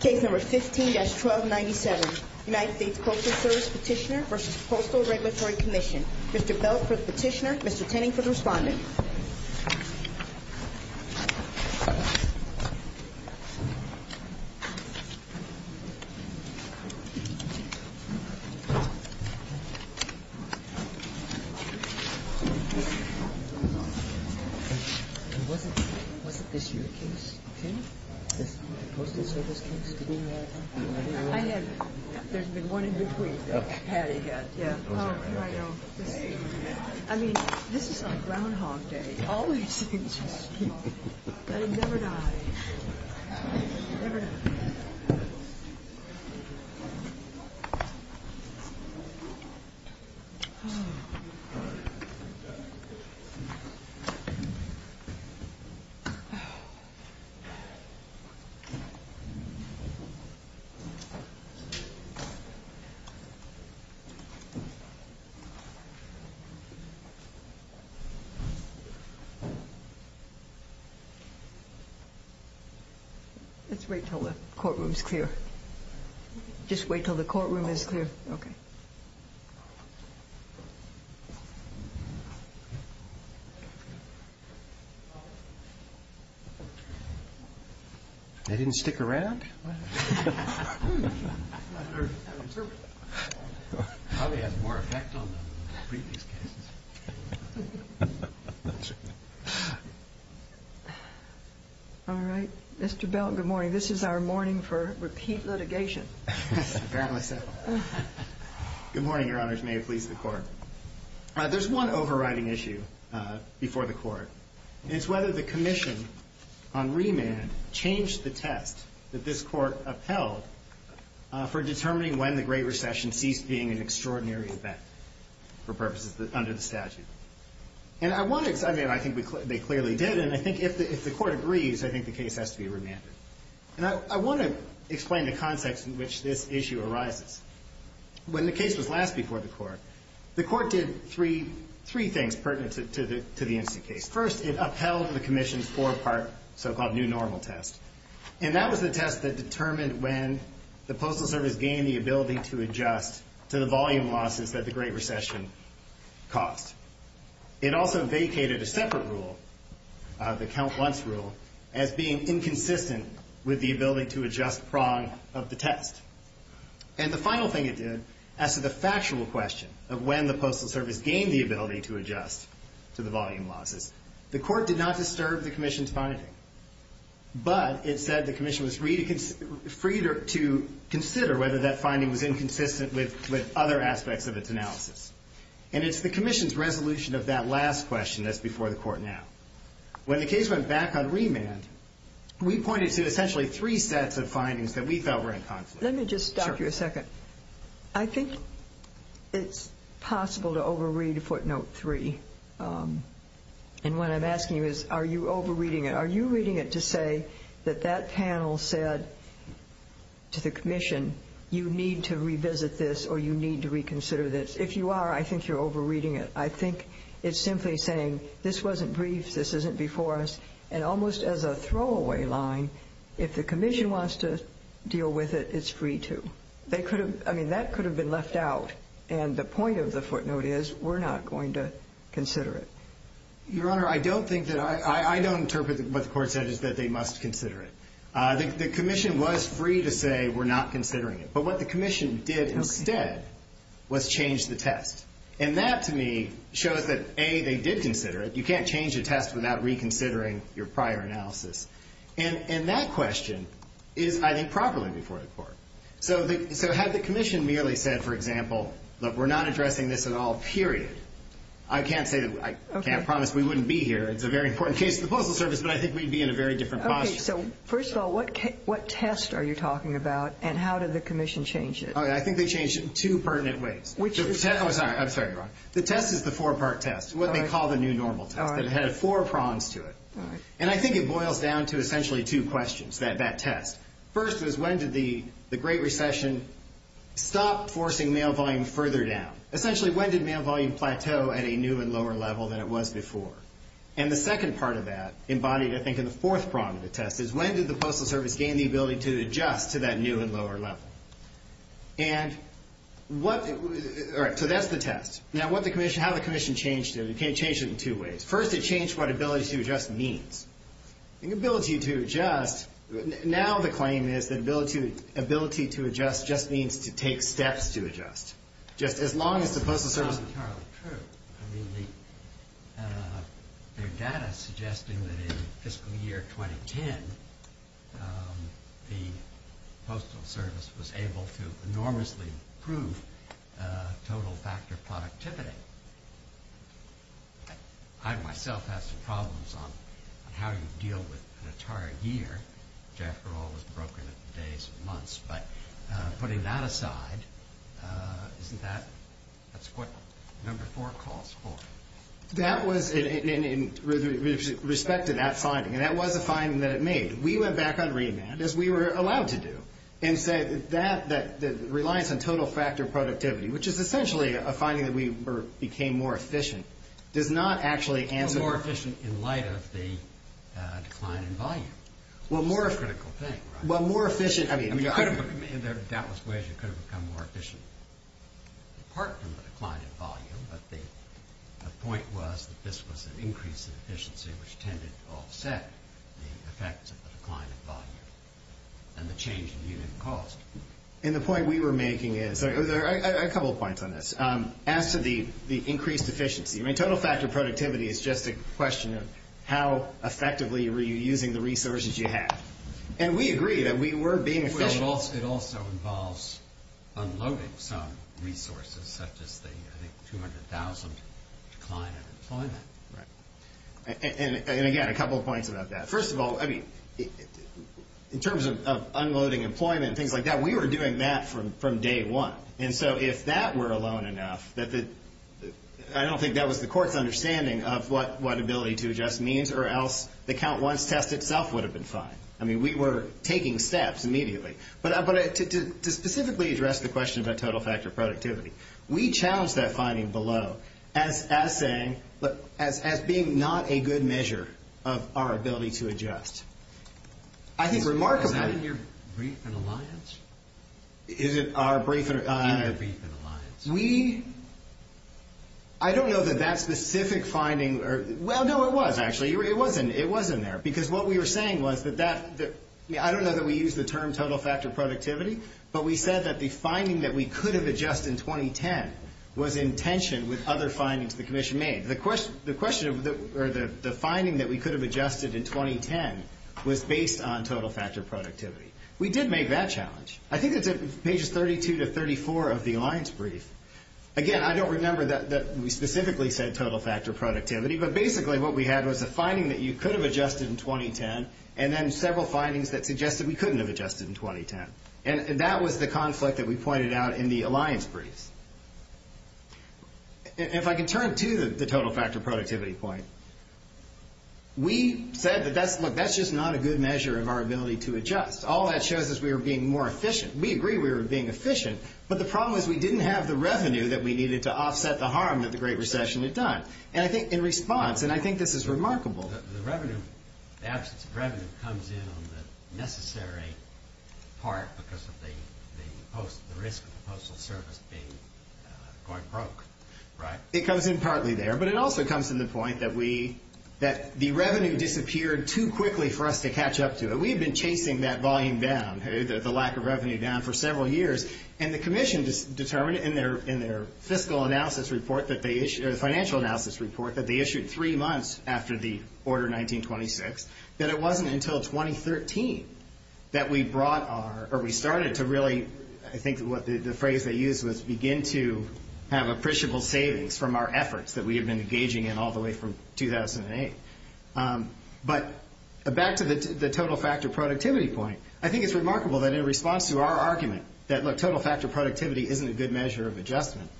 Case No. 15-1297, United States Postal Service Petitioner v. Postal Regulatory Commission. Mr. Bell for the petitioner, Mr. Tenning for the respondent. Was it this your case, Tim? The Postal Service case? I have. There's been one in between that Patty got. Oh, I know. I mean, this is like Groundhog Day. Always interesting. That he never died. Never died. Let's wait till the courtroom is clear. Just wait till the courtroom is clear. Okay. They didn't stick around? All right. Mr. Bell, good morning. This is our morning for repeat litigation. Good morning, Your Honors. May it please the Court. There's one overriding issue before the Court. And it's whether the commission on remand changed the test that this Court upheld for determining when the Great Recession ceased being an extraordinary event, for purposes under the statute. And I think they clearly did, and I think if the Court agrees, I think the case has to be remanded. And I want to explain the context in which this issue arises. When the case was last before the Court, the Court did three things pertinent to the incident case. First, it upheld the commission's four-part so-called new normal test. And that was the test that determined when the Postal Service gained the ability to adjust to the volume losses that the Great Recession caused. It also vacated a separate rule, the count-once rule, as being inconsistent with the ability to adjust prong of the test. And the final thing it did, as to the factual question of when the Postal Service gained the ability to adjust to the volume losses, the Court did not disturb the commission's finding. But it said the commission was free to consider whether that finding was inconsistent with other aspects of its analysis. And it's the commission's resolution of that last question that's before the Court now. When the case went back on remand, we pointed to essentially three sets of findings that we felt were inconsistent. Let me just stop you a second. I think it's possible to over-read footnote three. And what I'm asking you is, are you over-reading it? Are you reading it to say that that panel said to the commission, you need to revisit this or you need to reconsider this? If you are, I think you're over-reading it. I think it's simply saying, this wasn't brief, this isn't before us. And almost as a throwaway line, if the commission wants to deal with it, it's free to. I mean, that could have been left out. And the point of the footnote is, we're not going to consider it. Your Honor, I don't think that I don't interpret what the Court said is that they must consider it. The commission was free to say we're not considering it. But what the commission did instead was change the test. And that, to me, shows that, A, they did consider it. You can't change a test without reconsidering your prior analysis. And that question is, I think, properly before the Court. So had the commission merely said, for example, look, we're not addressing this at all, period, I can't say that I can't promise we wouldn't be here. It's a very important case to the Postal Service, but I think we'd be in a very different posture. Okay, so first of all, what test are you talking about and how did the commission change it? I think they changed it in two pertinent ways. Which is? I'm sorry, Your Honor. The test is the four-part test, what they call the new normal test. It had four prongs to it. And I think it boils down to essentially two questions, that test. First was when did the Great Recession stop forcing mail volume further down? Essentially, when did mail volume plateau at a new and lower level than it was before? And the second part of that embodied, I think, in the fourth prong of the test is when did the Postal Service gain the ability to adjust to that new and lower level? And what, all right, so that's the test. Now, what the commission, how the commission changed it, it changed it in two ways. First, it changed what ability to adjust means. The ability to adjust, now the claim is that ability to adjust just means to take steps to adjust. Just as long as the Postal Service That's not entirely true. I mean, there are data suggesting that in fiscal year 2010, the Postal Service was able to enormously improve total factor productivity. I myself have some problems on how you deal with an entire year, which, after all, is broken into days and months. But putting that aside, isn't that, that's what number four calls for. That was in respect to that finding, and that was a finding that it made. We went back on remand, as we were allowed to do, and said that the reliance on total factor productivity, which is essentially a finding that we became more efficient, does not actually answer Well, more efficient in light of the decline in volume. Well, more It's a critical thing, right? Well, more efficient, I mean I mean, there are doubtless ways you could have become more efficient. Apart from the decline in volume, but the point was that this was an increase in efficiency, which tended to offset the effects of the decline in volume and the change in unit cost. And the point we were making is, there are a couple of points on this. As to the increased efficiency, I mean, total factor productivity is just a question of how effectively are you using the resources you have. And we agree that we were being efficient Well, it also involves unloading some resources, such as the, I think, 200,000 decline in employment. Right. And again, a couple of points about that. First of all, I mean, in terms of unloading employment and things like that, we were doing that from day one. And so, if that were alone enough, I don't think that was the court's understanding of what ability to adjust means, or else the count once test itself would have been fine. I mean, we were taking steps immediately. But to specifically address the question about total factor productivity, we challenged that finding below as saying, as being not a good measure of our ability to adjust. I think remarkably Is that in your brief in alliance? Is it our brief in alliance? We, I don't know that that specific finding, well, no, it was actually. It wasn't there. Because what we were saying was that that, I don't know that we use the term total factor productivity, but we said that the finding that we could have adjusted in 2010 was in tension with other findings the commission made. The question, or the finding that we could have adjusted in 2010 was based on total factor productivity. We did make that challenge. I think it's pages 32 to 34 of the alliance brief. Again, I don't remember that we specifically said total factor productivity. But basically what we had was a finding that you could have adjusted in 2010, and then several findings that suggested we couldn't have adjusted in 2010. And that was the conflict that we pointed out in the alliance briefs. If I can turn to the total factor productivity point, we said that that's, look, that's just not a good measure of our ability to adjust. All that shows is we were being more efficient. We agree we were being efficient. But the problem is we didn't have the revenue that we needed to offset the harm that the Great Recession had done. And I think in response, and I think this is remarkable. The absence of revenue comes in on the necessary part because of the risk of the Postal Service being quite broke, right? It comes in partly there, but it also comes to the point that the revenue disappeared too quickly for us to catch up to it. We had been chasing that volume down, the lack of revenue down, for several years. And the Commission determined in their fiscal analysis report that they issued, or the financial analysis report that they issued three months after the order 1926, that it wasn't until 2013 that we brought our, or we started to really, I think the phrase they used was, begin to have appreciable savings from our efforts that we had been engaging in all the way from 2008. But back to the total factor productivity point, I think it's remarkable that in response to our argument that, look, total factor productivity isn't a good measure of adjustment,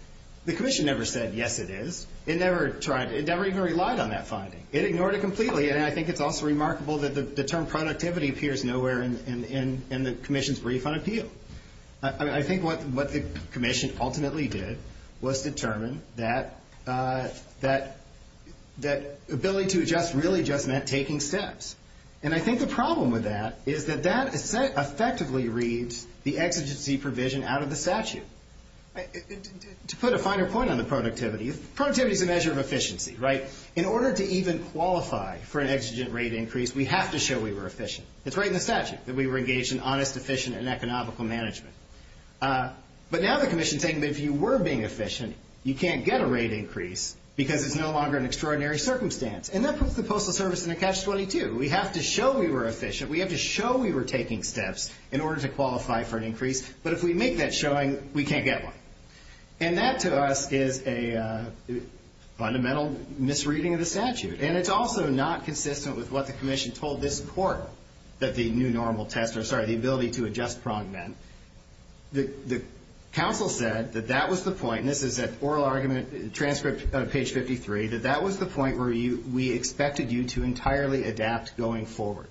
the Commission never said, yes, it is. It never tried. It never even relied on that finding. It ignored it completely. And I think it's also remarkable that the term productivity appears nowhere in the Commission's refund appeal. I think what the Commission ultimately did was determine that ability to adjust really just meant taking steps. And I think the problem with that is that that effectively reads the exigency provision out of the statute. To put a finer point on the productivity, productivity is a measure of efficiency, right? In order to even qualify for an exigent rate increase, we have to show we were efficient. It's right in the statute that we were engaged in honest, efficient, and economical management. But now the Commission is saying that if you were being efficient, you can't get a rate increase because it's no longer an extraordinary circumstance. And that puts the Postal Service in a catch-22. We have to show we were efficient. We have to show we were taking steps in order to qualify for an increase. But if we make that showing, we can't get one. And that, to us, is a fundamental misreading of the statute. And it's also not consistent with what the Commission told this court, that the new normal test, or, sorry, the ability to adjust pronged that. The counsel said that that was the point, and this is an oral argument transcript on page 53, that that was the point where we expected you to entirely adapt going forward.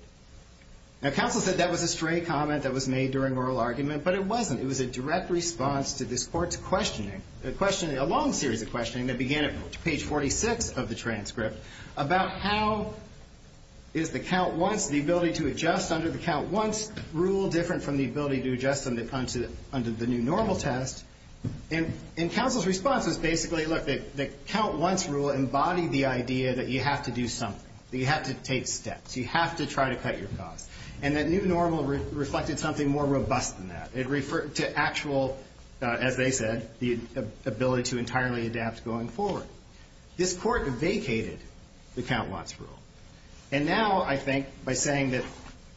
Now, counsel said that was a stray comment that was made during oral argument, but it wasn't. It was a direct response to this court's questioning, a long series of questioning that began at page 46 of the transcript about how is the count-once, the ability to adjust under the count-once rule different from the ability to adjust under the new normal test. And counsel's response was basically, look, the count-once rule embodied the idea that you have to do something, that you have to take steps, you have to try to cut your costs. And that new normal reflected something more robust than that. It referred to actual, as they said, the ability to entirely adapt going forward. This court vacated the count-once rule. And now, I think, by saying that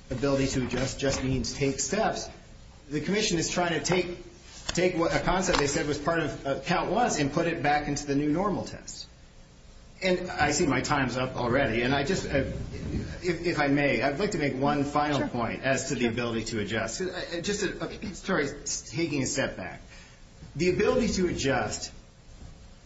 ability to adjust just means take steps, but the commission is trying to take a concept they said was part of count-once and put it back into the new normal test. And I see my time's up already, and I just, if I may, I'd like to make one final point as to the ability to adjust. Just a story, taking a step back. The ability to adjust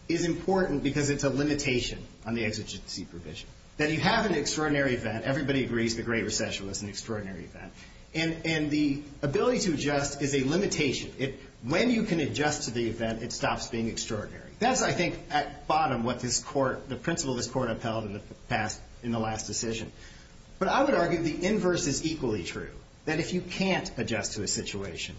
is important because it's a limitation on the exigency provision, that you have an extraordinary event. Everybody agrees the Great Recession was an extraordinary event. And the ability to adjust is a limitation. When you can adjust to the event, it stops being extraordinary. That's, I think, at bottom what this court, the principle this court upheld in the last decision. But I would argue the inverse is equally true, that if you can't adjust to a situation,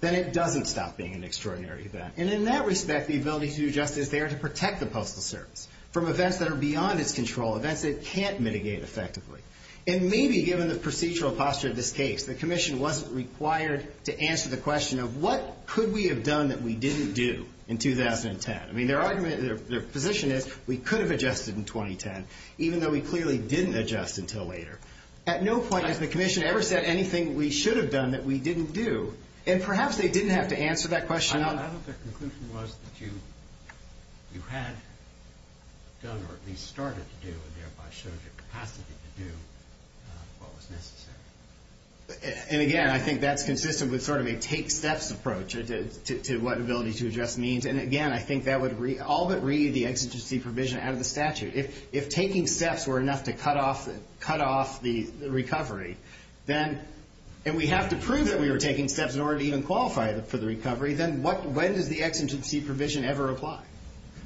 then it doesn't stop being an extraordinary event. And in that respect, the ability to adjust is there to protect the Postal Service from events that are beyond its control, events that it can't mitigate effectively. And maybe given the procedural posture of this case, the Commission wasn't required to answer the question of what could we have done that we didn't do in 2010. I mean, their argument, their position is we could have adjusted in 2010, even though we clearly didn't adjust until later. At no point has the Commission ever said anything we should have done that we didn't do. And perhaps they didn't have to answer that question. I don't think the conclusion was that you had done or at least started to do and thereby showed your capacity to do what was necessary. And again, I think that's consistent with sort of a take steps approach to what ability to adjust means. And again, I think that would all but read the exigency provision out of the statute. If taking steps were enough to cut off the recovery, and we have to prove that we were taking steps in order to even qualify for the recovery, then when does the exigency provision ever apply?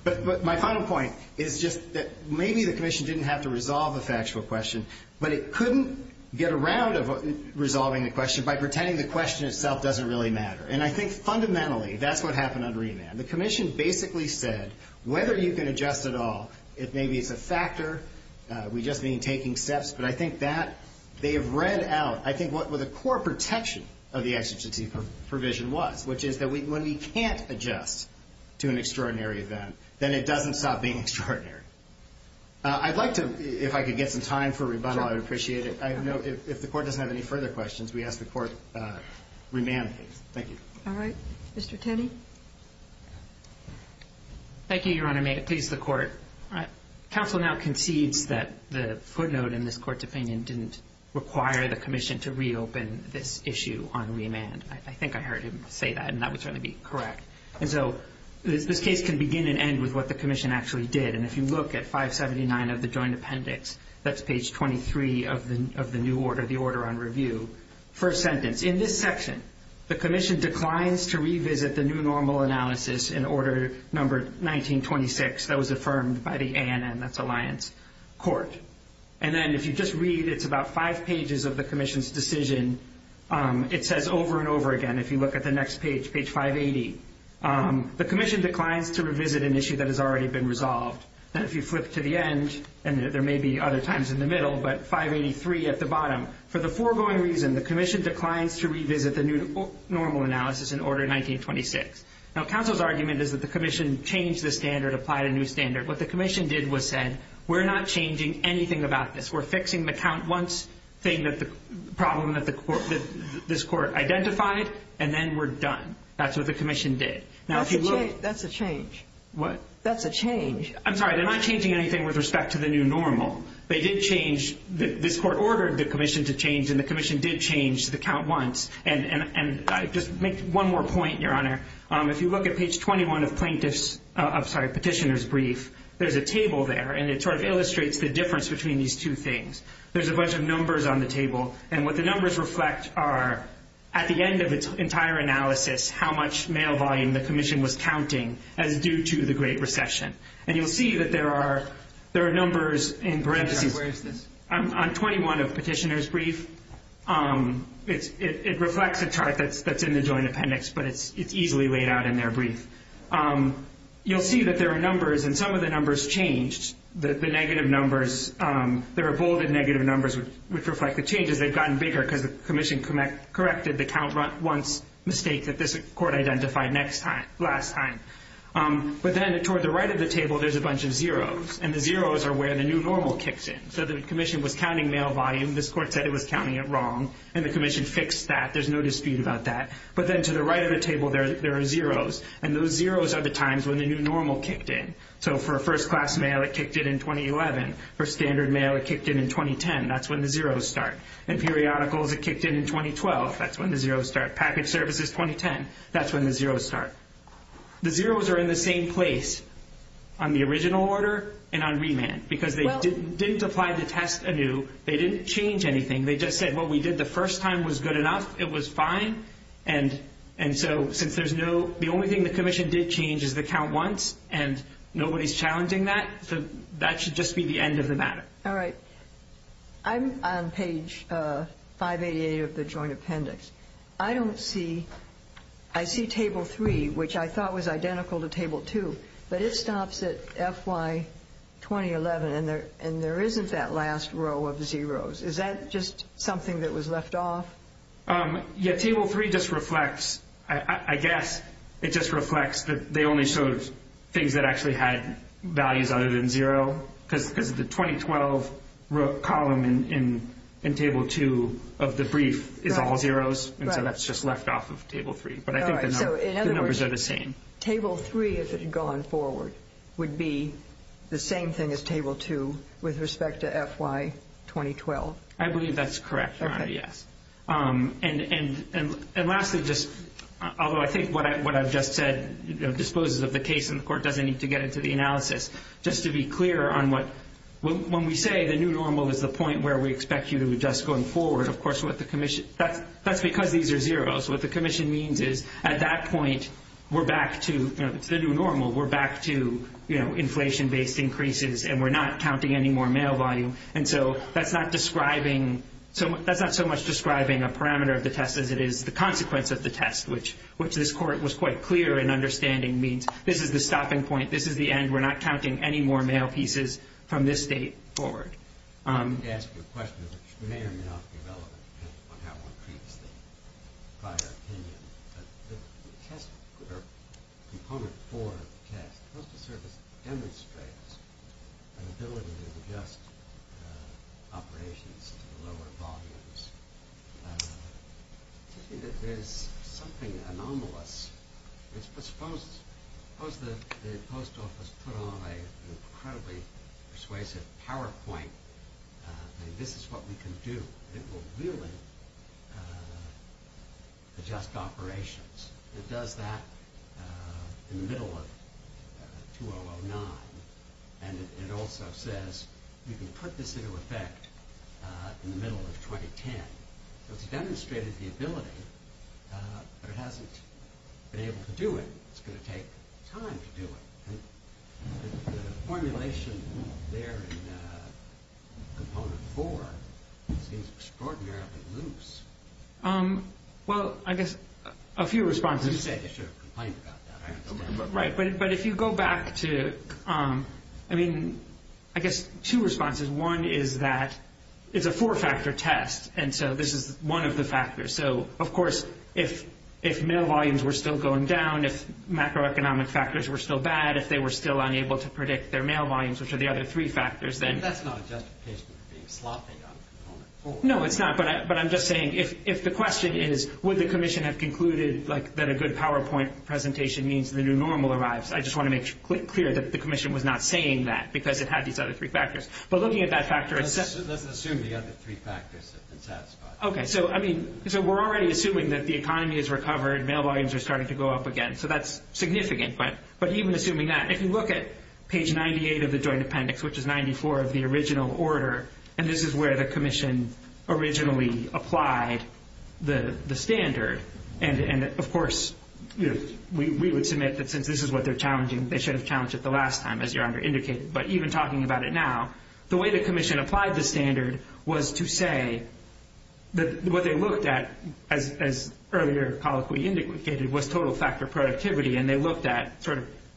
But my final point is just that maybe the Commission didn't have to resolve the factual question, but it couldn't get around of resolving the question by pretending the question itself doesn't really matter. And I think fundamentally that's what happened under EMAB. The Commission basically said whether you can adjust at all, if maybe it's a factor, we just mean taking steps. But I think that they have read out, I think, what the core protection of the exigency provision was, which is that when we can't adjust to an extraordinary event, then it doesn't stop being extraordinary. I'd like to, if I could get some time for rebundal, I would appreciate it. If the Court doesn't have any further questions, we ask the Court remand these. Thank you. All right. Mr. Tenney? Thank you, Your Honor. May it please the Court. Counsel now concedes that the footnote in this Court's opinion didn't require the Commission to reopen this issue on remand. I think I heard him say that, and that would certainly be correct. And so this case can begin and end with what the Commission actually did. And if you look at 579 of the Joint Appendix, that's page 23 of the new order, the order on review. First sentence, in this section, the Commission declines to revisit the new normal analysis in order number 1926 that was affirmed by the ANN, that's Alliance Court. And then if you just read, it's about five pages of the Commission's decision. It says over and over again, if you look at the next page, page 580, the Commission declines to revisit an issue that has already been resolved. And if you flip to the end, and there may be other times in the middle, but 583 at the bottom, for the foregoing reason, the Commission declines to revisit the new normal analysis in order 1926. Now, counsel's argument is that the Commission changed the standard, applied a new standard. What the Commission did was said, we're not changing anything about this. We're fixing the count once thing that the problem that this court identified, and then we're done. That's what the Commission did. Now, if you look. That's a change. What? That's a change. I'm sorry. They're not changing anything with respect to the new normal. They did change. This court ordered the Commission to change, and the Commission did change the count once. And just make one more point, Your Honor. If you look at page 21 of plaintiff's, I'm sorry, petitioner's brief, there's a table there, and it sort of illustrates the difference between these two things. There's a bunch of numbers on the table, and what the numbers reflect are, at the end of its entire analysis, how much mail volume the Commission was counting as due to the Great Recession. And you'll see that there are numbers in parentheses. Where is this? On 21 of petitioner's brief. It reflects a chart that's in the joint appendix, but it's easily laid out in their brief. You'll see that there are numbers, and some of the numbers changed. The negative numbers, there are bolded negative numbers which reflect the changes. They've gotten bigger because the Commission corrected the count once mistake that this court identified last time. But then toward the right of the table, there's a bunch of zeros, and the zeros are where the new normal kicks in. So the Commission was counting mail volume. This court said it was counting it wrong, and the Commission fixed that. There's no dispute about that. But then to the right of the table, there are zeros, and those zeros are the times when the new normal kicked in. So for first-class mail, it kicked in in 2011. For standard mail, it kicked in in 2010. That's when the zeros start. And periodicals, it kicked in in 2012. That's when the zeros start. Package services, 2010. That's when the zeros start. The zeros are in the same place on the original order and on remand because they didn't apply the test anew. They didn't change anything. They just said what we did the first time was good enough. It was fine. And so since there's no—the only thing the Commission did change is the count once, and nobody's challenging that. So that should just be the end of the matter. All right. I'm on page 588 of the Joint Appendix. I don't see—I see Table 3, which I thought was identical to Table 2, but it stops at FY 2011, and there isn't that last row of zeros. Is that just something that was left off? Yeah, Table 3 just reflects—I guess it just reflects that they only showed things that actually had values other than zero because the 2012 column in Table 2 of the brief is all zeros, and so that's just left off of Table 3. But I think the numbers are the same. All right. So in other words, Table 3, if it had gone forward, would be the same thing as Table 2 with respect to FY 2012. I believe that's correct, Your Honor. Yes. And lastly, just—although I think what I've just said disposes of the case, and the Court doesn't need to get into the analysis, just to be clear on what—when we say the new normal is the point where we expect you to adjust going forward, of course, what the Commission—that's because these are zeros. What the Commission means is at that point, we're back to—it's the new normal. We're back to inflation-based increases, and we're not counting any more mail volume. And so that's not describing—that's not so much describing a parameter of the test as it is the consequence of the test, which this Court was quite clear in understanding means this is the stopping point. This is the end. We're not counting any more mail pieces from this date forward. Let me ask you a question, which may or may not be relevant, depending on how one treats the prior opinion. The test—or Component 4 of the test, the Postal Service demonstrates an ability to adjust operations to lower volumes. It seems to me that there's something anomalous. Suppose the Post Office put on an incredibly persuasive PowerPoint, and this is what we can do. It will really adjust operations. It does that in the middle of 2009, and it also says you can put this into effect in the middle of 2010. So it's demonstrated the ability, but it hasn't been able to do it. It's going to take time to do it. The formulation there in Component 4 seems extraordinarily loose. Well, I guess a few responses— You said you should have complained about that. Right, but if you go back to—I mean, I guess two responses. One is that it's a four-factor test, and so this is one of the factors. So, of course, if mail volumes were still going down, if macroeconomic factors were still bad, if they were still unable to predict their mail volumes, which are the other three factors, then— And that's not a justification for being sloppy on Component 4. No, it's not, but I'm just saying if the question is, would the Commission have concluded that a good PowerPoint presentation means the new normal arrives, I just want to make clear that the Commission was not saying that because it had these other three factors. But looking at that factor— Let's assume the other three factors have been satisfied. Okay, so we're already assuming that the economy has recovered, mail volumes are starting to go up again, so that's significant. But even assuming that, if you look at page 98 of the Joint Appendix, which is 94 of the original order, and this is where the Commission originally applied the standard, and, of course, we would submit that since this is what they're challenging, they should have challenged it the last time, as your Honor indicated. But even talking about it now, the way the Commission applied the standard was to say that what they looked at, as earlier Colloquy indicated, was total factor productivity, and they looked at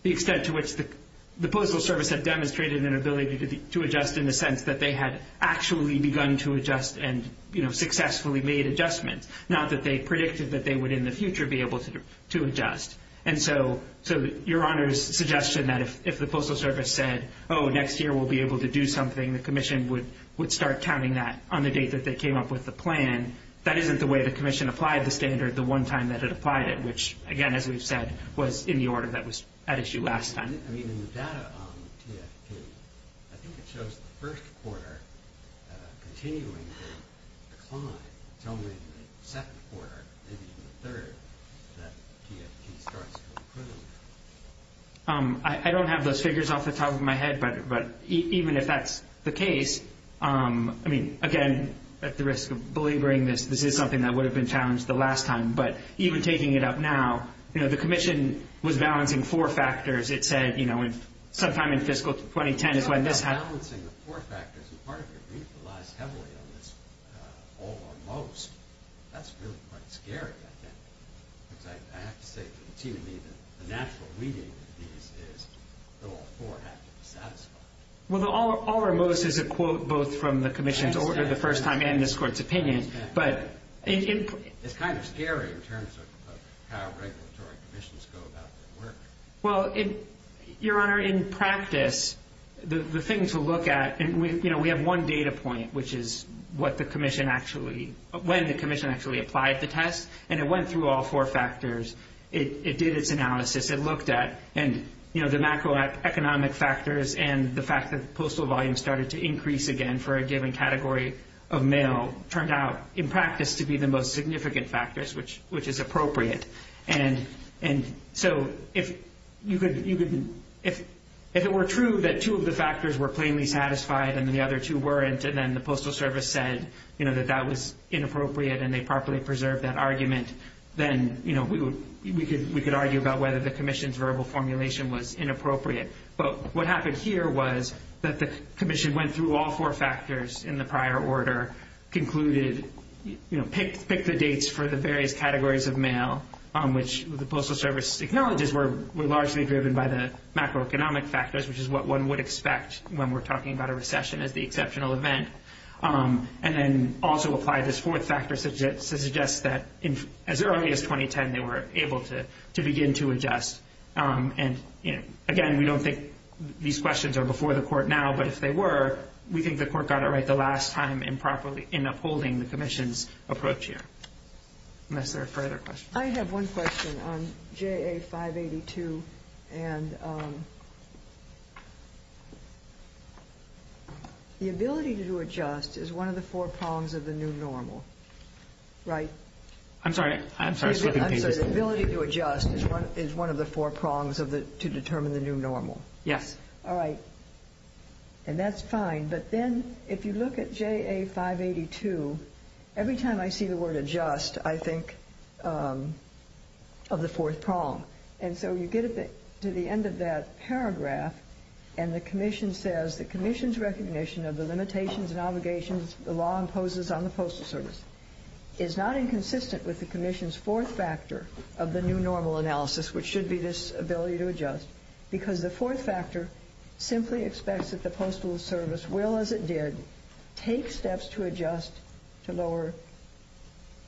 the extent to which the Postal Service had demonstrated an ability to adjust in the sense that they had actually begun to adjust and successfully made adjustments, not that they predicted that they would in the future be able to adjust. And so your Honor's suggestion that if the Postal Service said, oh, next year we'll be able to do something, the Commission would start counting that on the date that they came up with the plan, that isn't the way the Commission applied the standard the one time that it applied it, which, again, as we've said, was in the order that was at issue last time. I mean, in the data on TFP, I think it shows the first quarter continuing to decline, until maybe the second quarter, maybe even the third, that TFP starts to improve. I don't have those figures off the top of my head, but even if that's the case, I mean, again, at the risk of belaboring this, this is something that would have been challenged the last time. But even taking it up now, you know, the Commission was balancing four factors. It said, you know, sometime in fiscal 2010 is when this happened. And part of it relies heavily on this all or most. That's really quite scary, I think. Because I have to say to the TV that the natural reading of these is that all four have to be satisfied. Well, the all or most is a quote both from the Commission's order the first time and this Court's opinion. But it's kind of scary in terms of how regulatory commissions go about their work. Well, Your Honor, in practice, the thing to look at, you know, we have one data point, which is what the Commission actually, when the Commission actually applied the test. And it went through all four factors. It did its analysis. It looked at, you know, the macroeconomic factors and the fact that the postal volume started to increase again for a given category of mail turned out in practice to be the most significant factors, which is appropriate. And so if it were true that two of the factors were plainly satisfied and the other two weren't, and then the Postal Service said, you know, that that was inappropriate and they properly preserved that argument, then, you know, we could argue about whether the Commission's verbal formulation was inappropriate. But what happened here was that the Commission went through all four factors in the prior order, concluded, you know, picked the dates for the various categories of mail, which the Postal Service acknowledges were largely driven by the macroeconomic factors, which is what one would expect when we're talking about a recession as the exceptional event, and then also applied this fourth factor to suggest that as early as 2010 they were able to begin to adjust. And, you know, again, we don't think these questions are before the Court now, but if they were, we think the Court got it right the last time improperly in upholding the Commission's approach here. Unless there are further questions. I have one question on JA582. And the ability to adjust is one of the four prongs of the new normal, right? I'm sorry. I'm sorry. The ability to adjust is one of the four prongs to determine the new normal. Yes. All right. And that's fine. But then if you look at JA582, every time I see the word adjust I think of the fourth prong. And so you get to the end of that paragraph and the Commission says, the Commission's recognition of the limitations and obligations the law imposes on the Postal Service is not inconsistent with the Commission's fourth factor of the new normal analysis, which should be this ability to adjust, because the fourth factor simply expects that the Postal Service will, as it did, take steps to adjust to lower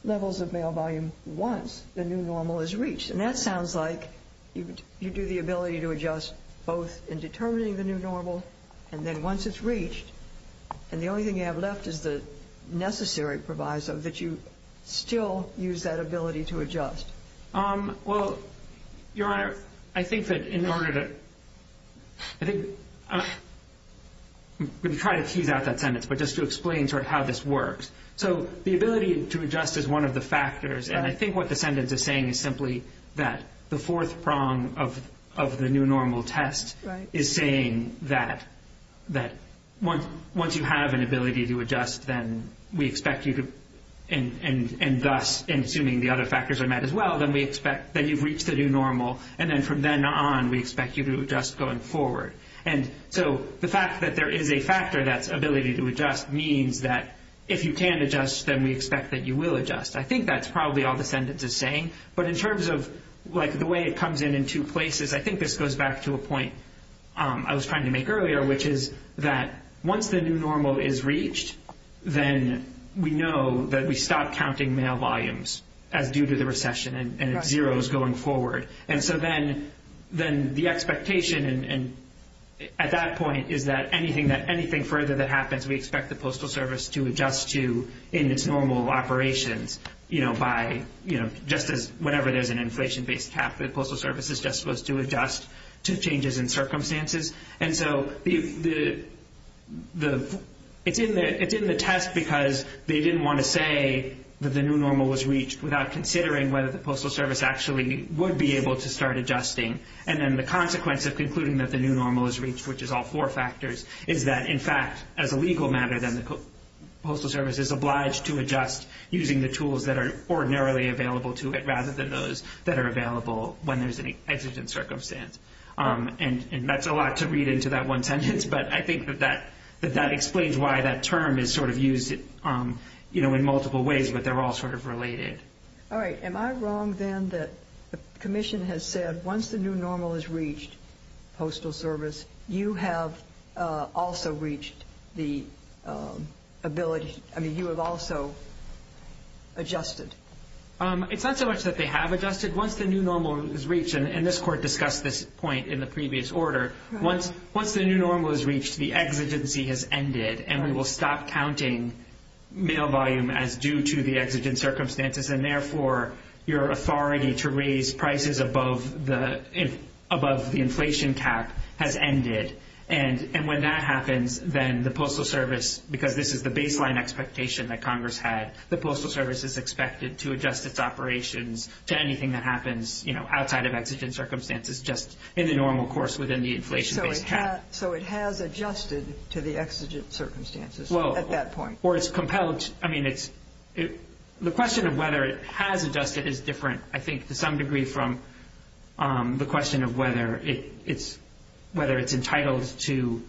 levels of mail volume once the new normal is reached. And that sounds like you do the ability to adjust both in determining the new normal and then once it's reached and the only thing you have left is the necessary proviso that you still use that ability to adjust. Well, Your Honor, I think that in order to – I'm going to try to tease out that sentence, but just to explain sort of how this works. So the ability to adjust is one of the factors, and I think what the sentence is saying is simply that the fourth prong of the new normal test is saying that once you have an ability to adjust, then we expect you to – and thus, and assuming the other factors are met as well, then we expect that you've reached the new normal, and then from then on we expect you to adjust going forward. And so the fact that there is a factor that's ability to adjust means that if you can adjust, then we expect that you will adjust. I think that's probably all the sentence is saying. But in terms of the way it comes in in two places, I think this goes back to a point I was trying to make earlier, which is that once the new normal is reached, then we know that we stop counting mail volumes as due to the recession and zeros going forward. And so then the expectation at that point is that anything further that happens, we expect the Postal Service to adjust to in its normal operations by – just as whenever there's an inflation-based cap, the Postal Service is just supposed to adjust to changes in circumstances. And so it's in the test because they didn't want to say that the new normal was reached without considering whether the Postal Service actually would be able to start adjusting. And then the consequence of concluding that the new normal is reached, which is all four factors, is that in fact, as a legal matter, then the Postal Service is obliged to adjust using the tools that are ordinarily available to it rather than those that are available when there's an exigent circumstance. And that's a lot to read into that one sentence, but I think that that explains why that term is sort of used in multiple ways, but they're all sort of related. All right. Am I wrong then that the Commission has said once the new normal is reached, Postal Service, you have also reached the ability – I mean, you have also adjusted? It's not so much that they have adjusted. Once the new normal is reached, and this Court discussed this point in the previous order, once the new normal is reached, the exigency has ended, and we will stop counting mail volume as due to the exigent circumstances, and therefore your authority to raise prices above the inflation cap has ended. And when that happens, then the Postal Service, because this is the baseline expectation that Congress had, the Postal Service is expected to adjust its operations to anything that happens, you know, outside of exigent circumstances just in the normal course within the inflation-based cap. So it has adjusted to the exigent circumstances at that point? Well, or it's compelled – I mean, it's – the question of whether it has adjusted is different, I think, to some degree from the question of whether it's entitled to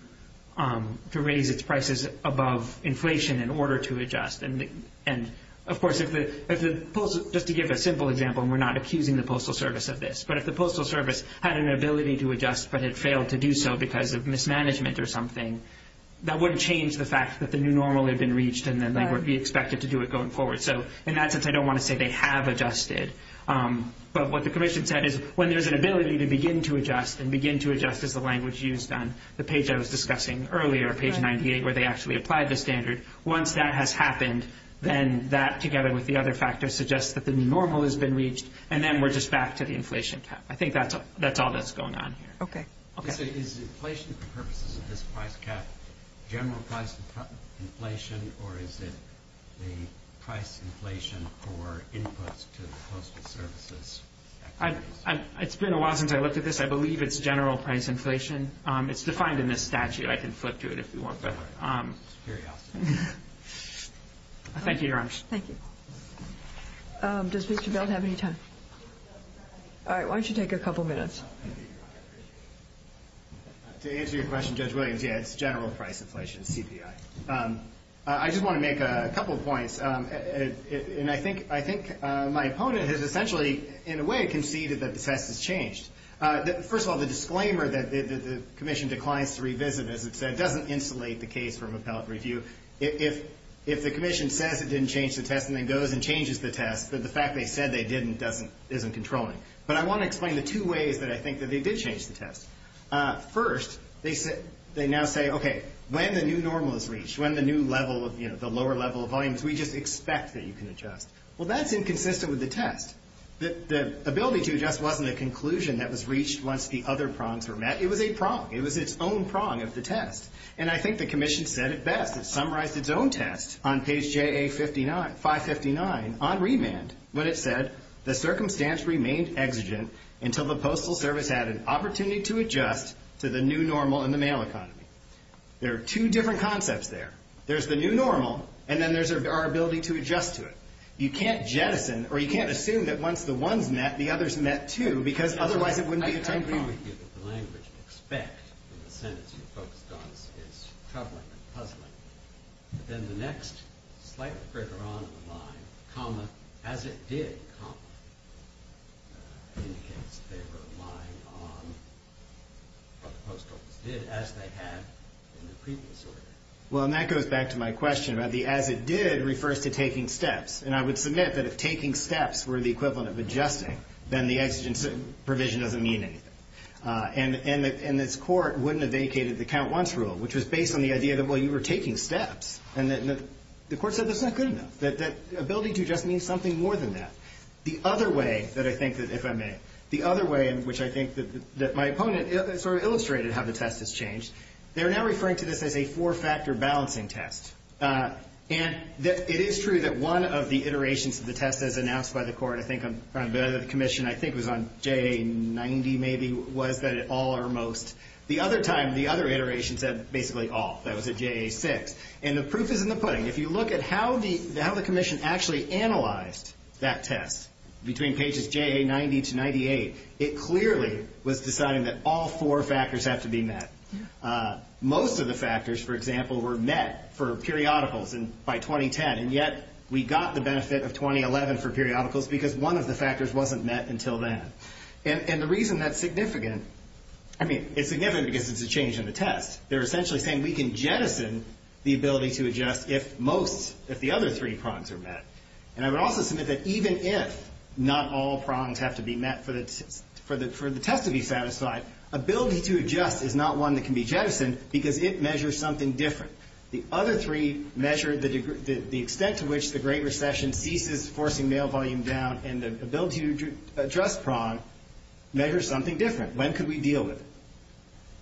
raise its prices above inflation in order to adjust. And, of course, if the – just to give a simple example, and we're not accusing the Postal Service of this, but if the Postal Service had an ability to adjust but had failed to do so because of mismanagement or something, that wouldn't change the fact that the new normal had been reached and that they would be expected to do it going forward. So in that sense, I don't want to say they have adjusted. But what the Commission said is when there's an ability to begin to adjust and begin to adjust as the language used on the page I was discussing earlier, page 98, where they actually applied the standard, once that has happened, then that, together with the other factors, suggests that the new normal has been reached, and then we're just back to the inflation cap. I think that's all that's going on here. Okay. Is inflation for purposes of this price cap general price inflation, or is it the price inflation for inputs to the Postal Service's activities? It's been a while since I looked at this. I believe it's general price inflation. It's defined in this statute. I can flip to it if you want. Thank you, Your Honors. Thank you. Does Mr. Belt have any time? All right. Why don't you take a couple minutes? To answer your question, Judge Williams, yeah, it's general price inflation, CPI. I just want to make a couple of points, and I think my opponent has essentially, in a way, conceded that the test has changed. First of all, the disclaimer that the commission declines to revisit, as it said, doesn't insulate the case from appellate review. If the commission says it didn't change the test and then goes and changes the test, the fact they said they didn't isn't controlling. But I want to explain the two ways that I think that they did change the test. First, they now say, okay, when the new normal is reached, when the new level of, you know, the lower level of volumes, we just expect that you can adjust. Well, that's inconsistent with the test. The ability to adjust wasn't a conclusion that was reached once the other prongs were met. It was a prong. It was its own prong of the test. And I think the commission said it best. It summarized its own test on page 559 on remand when it said, the circumstance remained exigent until the Postal Service had an opportunity to adjust to the new normal in the mail economy. There are two different concepts there. There's the new normal, and then there's our ability to adjust to it. You can't jettison, or you can't assume that once the one's met, the other's met, too, because otherwise it wouldn't be a time period. I agree with you that the language to expect in the sentence you focused on is troubling and puzzling. But then the next, slightly further on in the line, comma, as it did, comma, indicates they were relying on what the Postal Service did, as they had in the previous order. Well, and that goes back to my question about the as it did refers to taking steps. And I would submit that if taking steps were the equivalent of adjusting, then the exigent provision doesn't mean anything. And this Court wouldn't have vacated the count-once rule, which was based on the idea that, well, you were taking steps. And the Court said that's not good enough, that ability to adjust means something more than that. The other way that I think that, if I may, the other way in which I think that my opponent sort of illustrated how the test has changed, they're now referring to this as a four-factor balancing test. And it is true that one of the iterations of the test as announced by the Court, I think on the commission, I think it was on JA90 maybe, was that it all or most. The other time, the other iteration said basically all. That was at JA6. And the proof is in the pudding. If you look at how the commission actually analyzed that test between pages JA90 to 98, it clearly was deciding that all four factors have to be met. Most of the factors, for example, were met for periodicals by 2010, and yet we got the benefit of 2011 for periodicals because one of the factors wasn't met until then. And the reason that's significant, I mean, it's significant because it's a change in the test. They're essentially saying we can jettison the ability to adjust if most, if the other three prongs are met. And I would also submit that even if not all prongs have to be met for the test to be satisfied, ability to adjust is not one that can be jettisoned because it measures something different. The other three measure the extent to which the Great Recession ceases forcing mail volume down and the ability to adjust prong measures something different. When could we deal with it?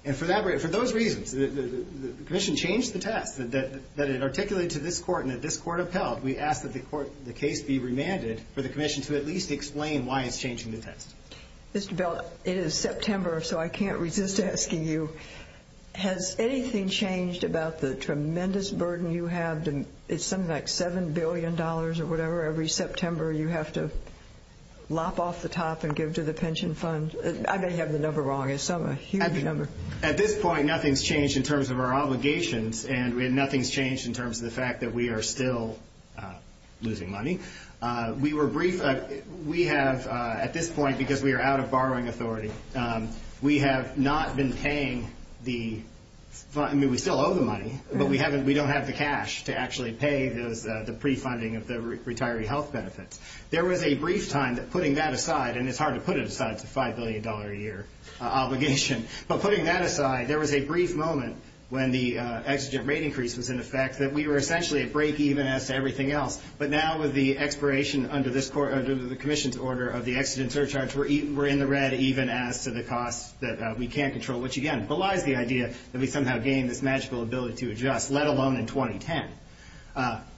And for those reasons, the commission changed the test that it articulated to this Court and that this Court upheld. We ask that the case be remanded for the commission to at least explain why it's changing the test. Mr. Bell, it is September, so I can't resist asking you, has anything changed about the tremendous burden you have? It's something like $7 billion or whatever every September you have to lop off the top and give to the pension fund. I may have the number wrong. It's a huge number. At this point, nothing's changed in terms of our obligations, and nothing's changed in terms of the fact that we are still losing money. At this point, because we are out of borrowing authority, we have not been paying the fund. I mean, we still owe the money, but we don't have the cash to actually pay the pre-funding of the retiree health benefits. There was a brief time that, putting that aside, and it's hard to put it aside, it's a $5 billion a year obligation, but putting that aside, there was a brief moment when the exigent rate increase was in effect that we were essentially at break even as to everything else. But now with the expiration under the commission's order of the exigent surcharge, we're in the red even as to the cost that we can't control, which, again, belies the idea that we somehow gained this magical ability to adjust, let alone in 2010.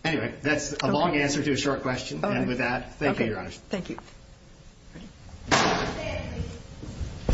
Anyway, that's a long answer to a short question. And with that, thank you, Your Honors. Thank you.